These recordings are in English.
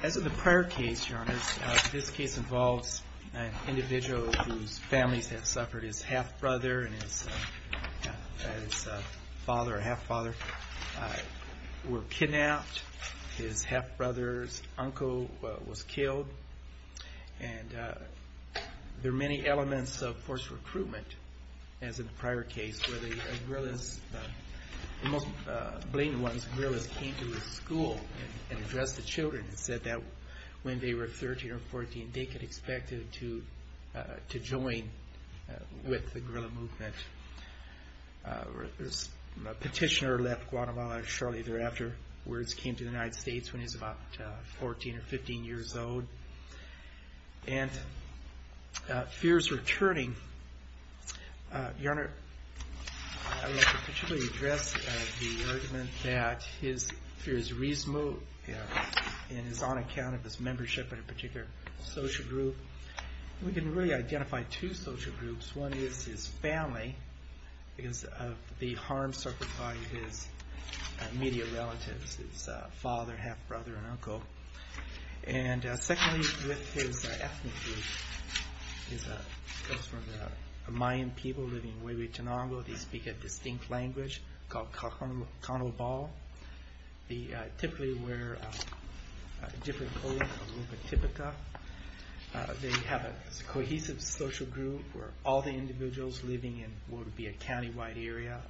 As of the prior case, Your Honors, this case involves an individual whose families have suffered. His half-brother and his father or half-father were kidnapped. His half-brother's uncle was killed. There are many elements of forced recruitment, as in the prior case, where the most blatant ones, the guerrillas, came to the school and addressed the children and said that when they were 13 or 14, they could expect to join with the guerrilla movement. A petitioner left Guatemala shortly thereafter. Words came to the United States when he was about 14 or 15 years old. And fear is returning. Your Honor, I would like to particularly address the argument that his fear is on account of his membership in a particular social group. We can really identify two social groups. One is his family, because of the harm suffered by his immediate relatives, his father, half-brother, and uncle. And secondly, with his ethnic group. He comes from the Mayan people living in Huehuetenango. They speak a distinct language called Conobal. They typically wear a different clothing, a little bit típica. They have a cohesive social group where all the individuals living in what would be a county-wide area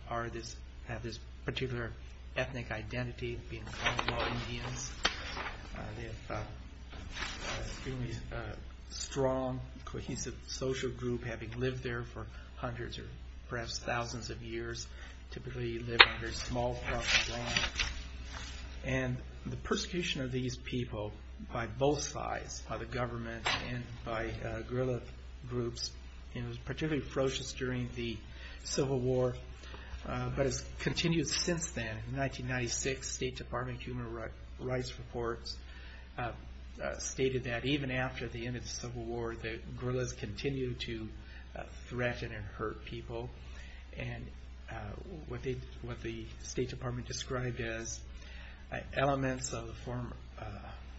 have this particular ethnic identity, being Conobal Indians. They have a strong, cohesive social group, having lived there for hundreds or perhaps thousands of years, typically living under small properties. And the persecution of these people by both sides, by the government and by guerrilla groups, was particularly ferocious during the Civil War, but has continued since then. In 1996, the State Department of Human Rights reports stated that even after the end of the Civil War, the guerrillas continued to threaten and hurt people. And what the State Department described as elements of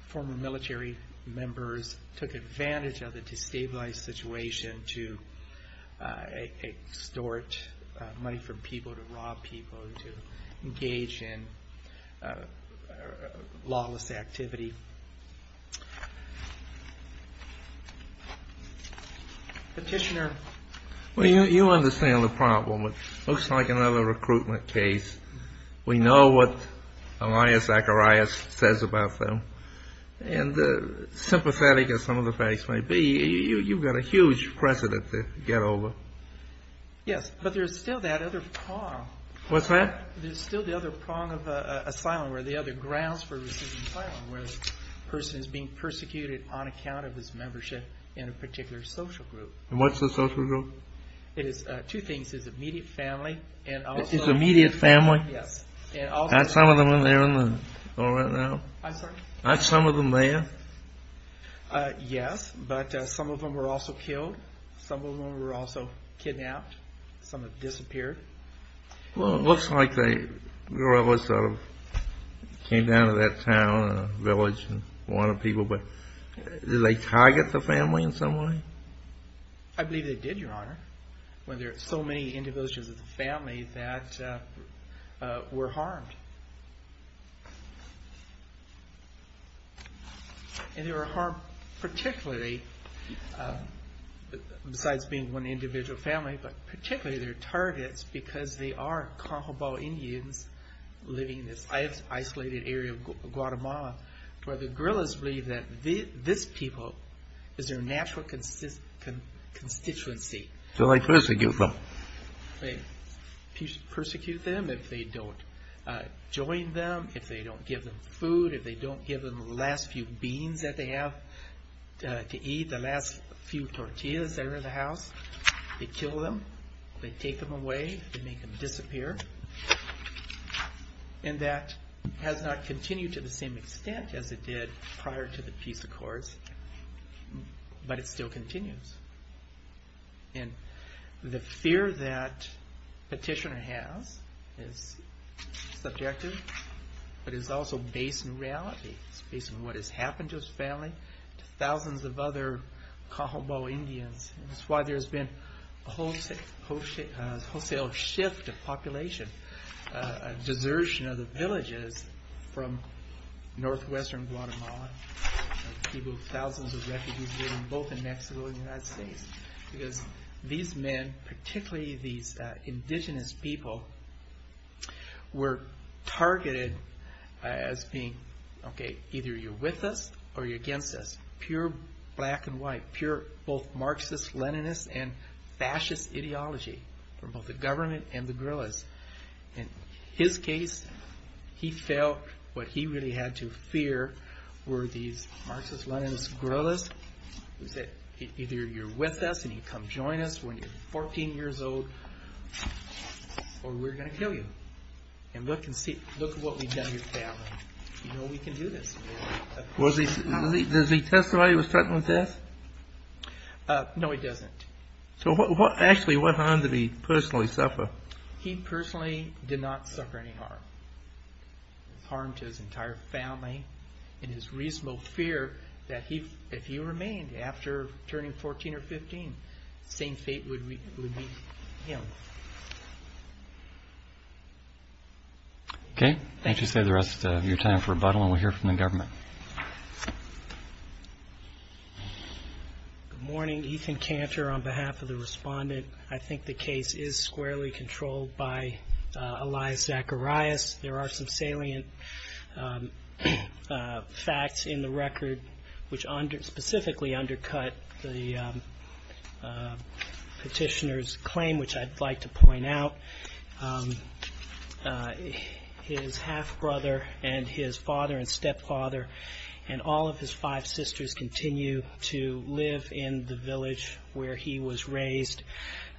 former military members took advantage of the Petitioner. Well, you understand the problem. It looks like another recruitment case. We know what Elias Zacharias says about them. And sympathetic as some of the facts may be, you've got a huge precedent to get over. Yes, but there's still that other prong. What's that? There's still the other prong of asylum, or the other grounds for receiving asylum, where the person is being persecuted on account of his membership in a particular social group. And what's the social group? It is two things. It's immediate family. It's immediate family? Yes. Aren't some of them in there right now? I'm sorry? Aren't some of them there? Yes, but some of them were also killed. Some of them were also kidnapped. Some have disappeared. Well, it looks like the guerrillas sort of came down to that town and village and wanted people. But did they target the family in some way? I believe they did, Your Honor, when there were so many individuals in the family that were harmed. And they were harmed particularly, besides being one individual family, but particularly their targets, because they are Cajon Indians living in this isolated area of Guatemala, where the guerrillas believe that this people is their natural constituency. So they persecute them? They persecute them if they don't join them, if they don't give them food, if they don't give them the last few beans that they have to eat, the last few tortillas that are in the house. They kill them. They take them away. They make them disappear. And that has not continued to the same extent as it did prior to the peace accords, but it still continues. And the fear that Petitioner has is subjective, but it's also based in reality. It's based on what has happened to his family, to thousands of other Cajon Indians. That's why there's been a wholesale shift of population, a desertion of the villages from northwestern Guatemala. People, thousands of refugees living both in Mexico and the United States, because these men, particularly these indigenous people, were targeted as being, okay, either you're with us or you're against us. Pure black and white, pure both Marxist, Leninist, and fascist ideology from both the government and the guerrillas. In his case, he felt what he really had to fear were these Marxist, Leninist, guerrillas who said, either you're with us and you come join us when you're 14 years old or we're going to kill you. And look at what we've done to your family. You know we can do this. Does he testify he was threatened with death? No, he doesn't. So actually, what harm did he personally suffer? He personally did not suffer any harm. Harm to his entire family and his reasonable fear that if he remained after turning 14 or 15, same fate would be with him. Okay, why don't you save the rest of your time for rebuttal and we'll hear from the government. Good morning, Ethan Cantor on behalf of the respondent. I think the case is squarely controlled by Elias Zacharias. There are some salient facts in the record which specifically undercut the petitioner's claim, which I'd like to point out. His half-brother and his father and stepfather and all of his five sisters continue to live in the village where he was raised.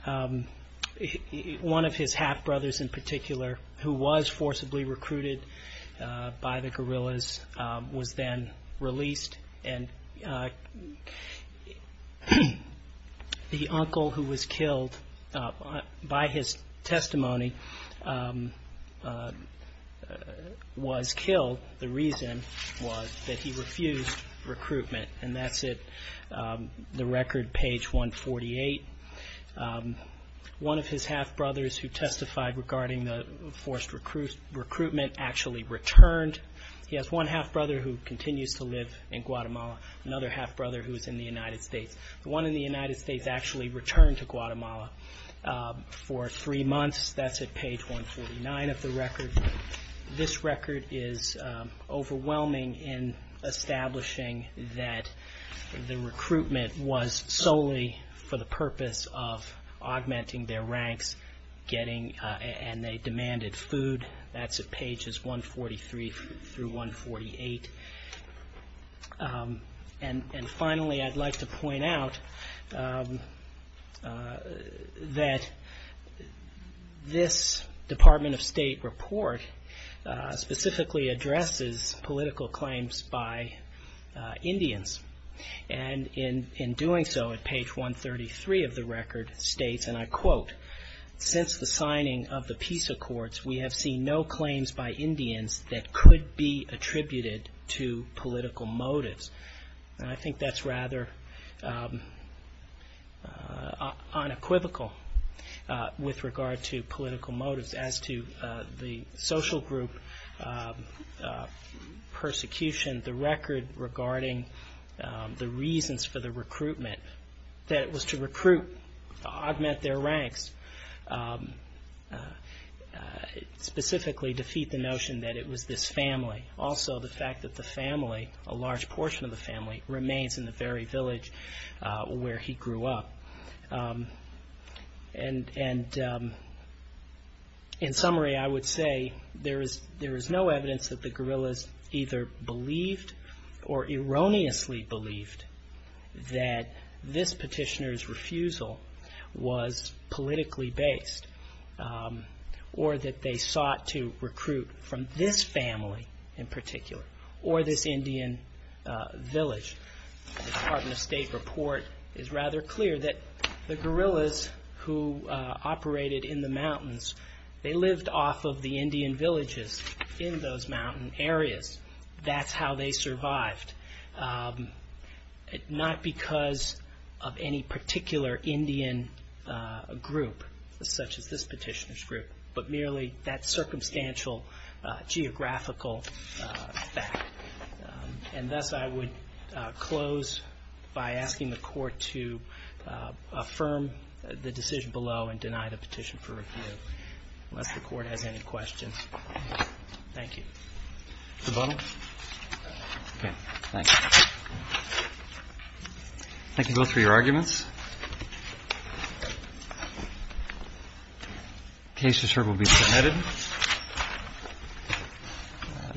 One of his half-brothers in particular, who was forcibly recruited by the guerrillas, was then released. And the uncle who was killed by his testimony was killed. The reason was that he refused recruitment, and that's in the record, page 148. One of his half-brothers who testified regarding the forced recruitment actually returned. He has one half-brother who continues to live in Guatemala, another half-brother who's in the United States. The one in the United States actually returned to Guatemala for three months. That's at page 149 of the record. This record is overwhelming in establishing that the recruitment was solely for the purpose of augmenting their ranks and they demanded food. That's at pages 143 through 148. And finally, I'd like to point out that this Department of State report specifically addresses political claims by Indians. And in doing so, at page 133 of the record, states, and I quote, since the signing of the peace accords, we have seen no claims by Indians that could be attributed to political motives. And I think that's rather unequivocal with regard to political motives. As to the social group persecution, the record regarding the reasons for the recruitment, that it was to recruit, augment their ranks, specifically defeat the notion that it was this family. Also, the fact that the family, a large portion of the family, remains in the very village where he grew up. And in summary, I would say there is no evidence that the guerrillas either believed or erroneously believed that this petitioner's refusal was politically based, or that they sought to recruit from this family in particular, or this Indian village. The Department of State report is rather clear that the guerrillas who operated in the mountains, they lived off of the Indian villages in those mountain areas. That's how they survived. Not because of any particular Indian group, such as this petitioner's group, but merely that circumstantial geographical fact. And thus, I would close by asking the Court to affirm the decision below and deny the petition for review, unless the Court has any questions. Thank you. Mr. Butler? Okay. Thank you. Thank you both for your arguments. Case to serve will be submitted.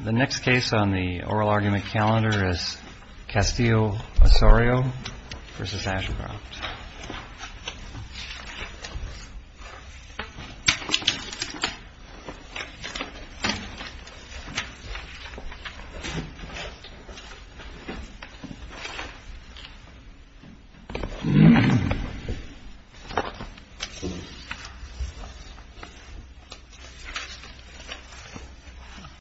The next case on the oral argument calendar is Castillo-Osorio v. Ashcroft. Thank you.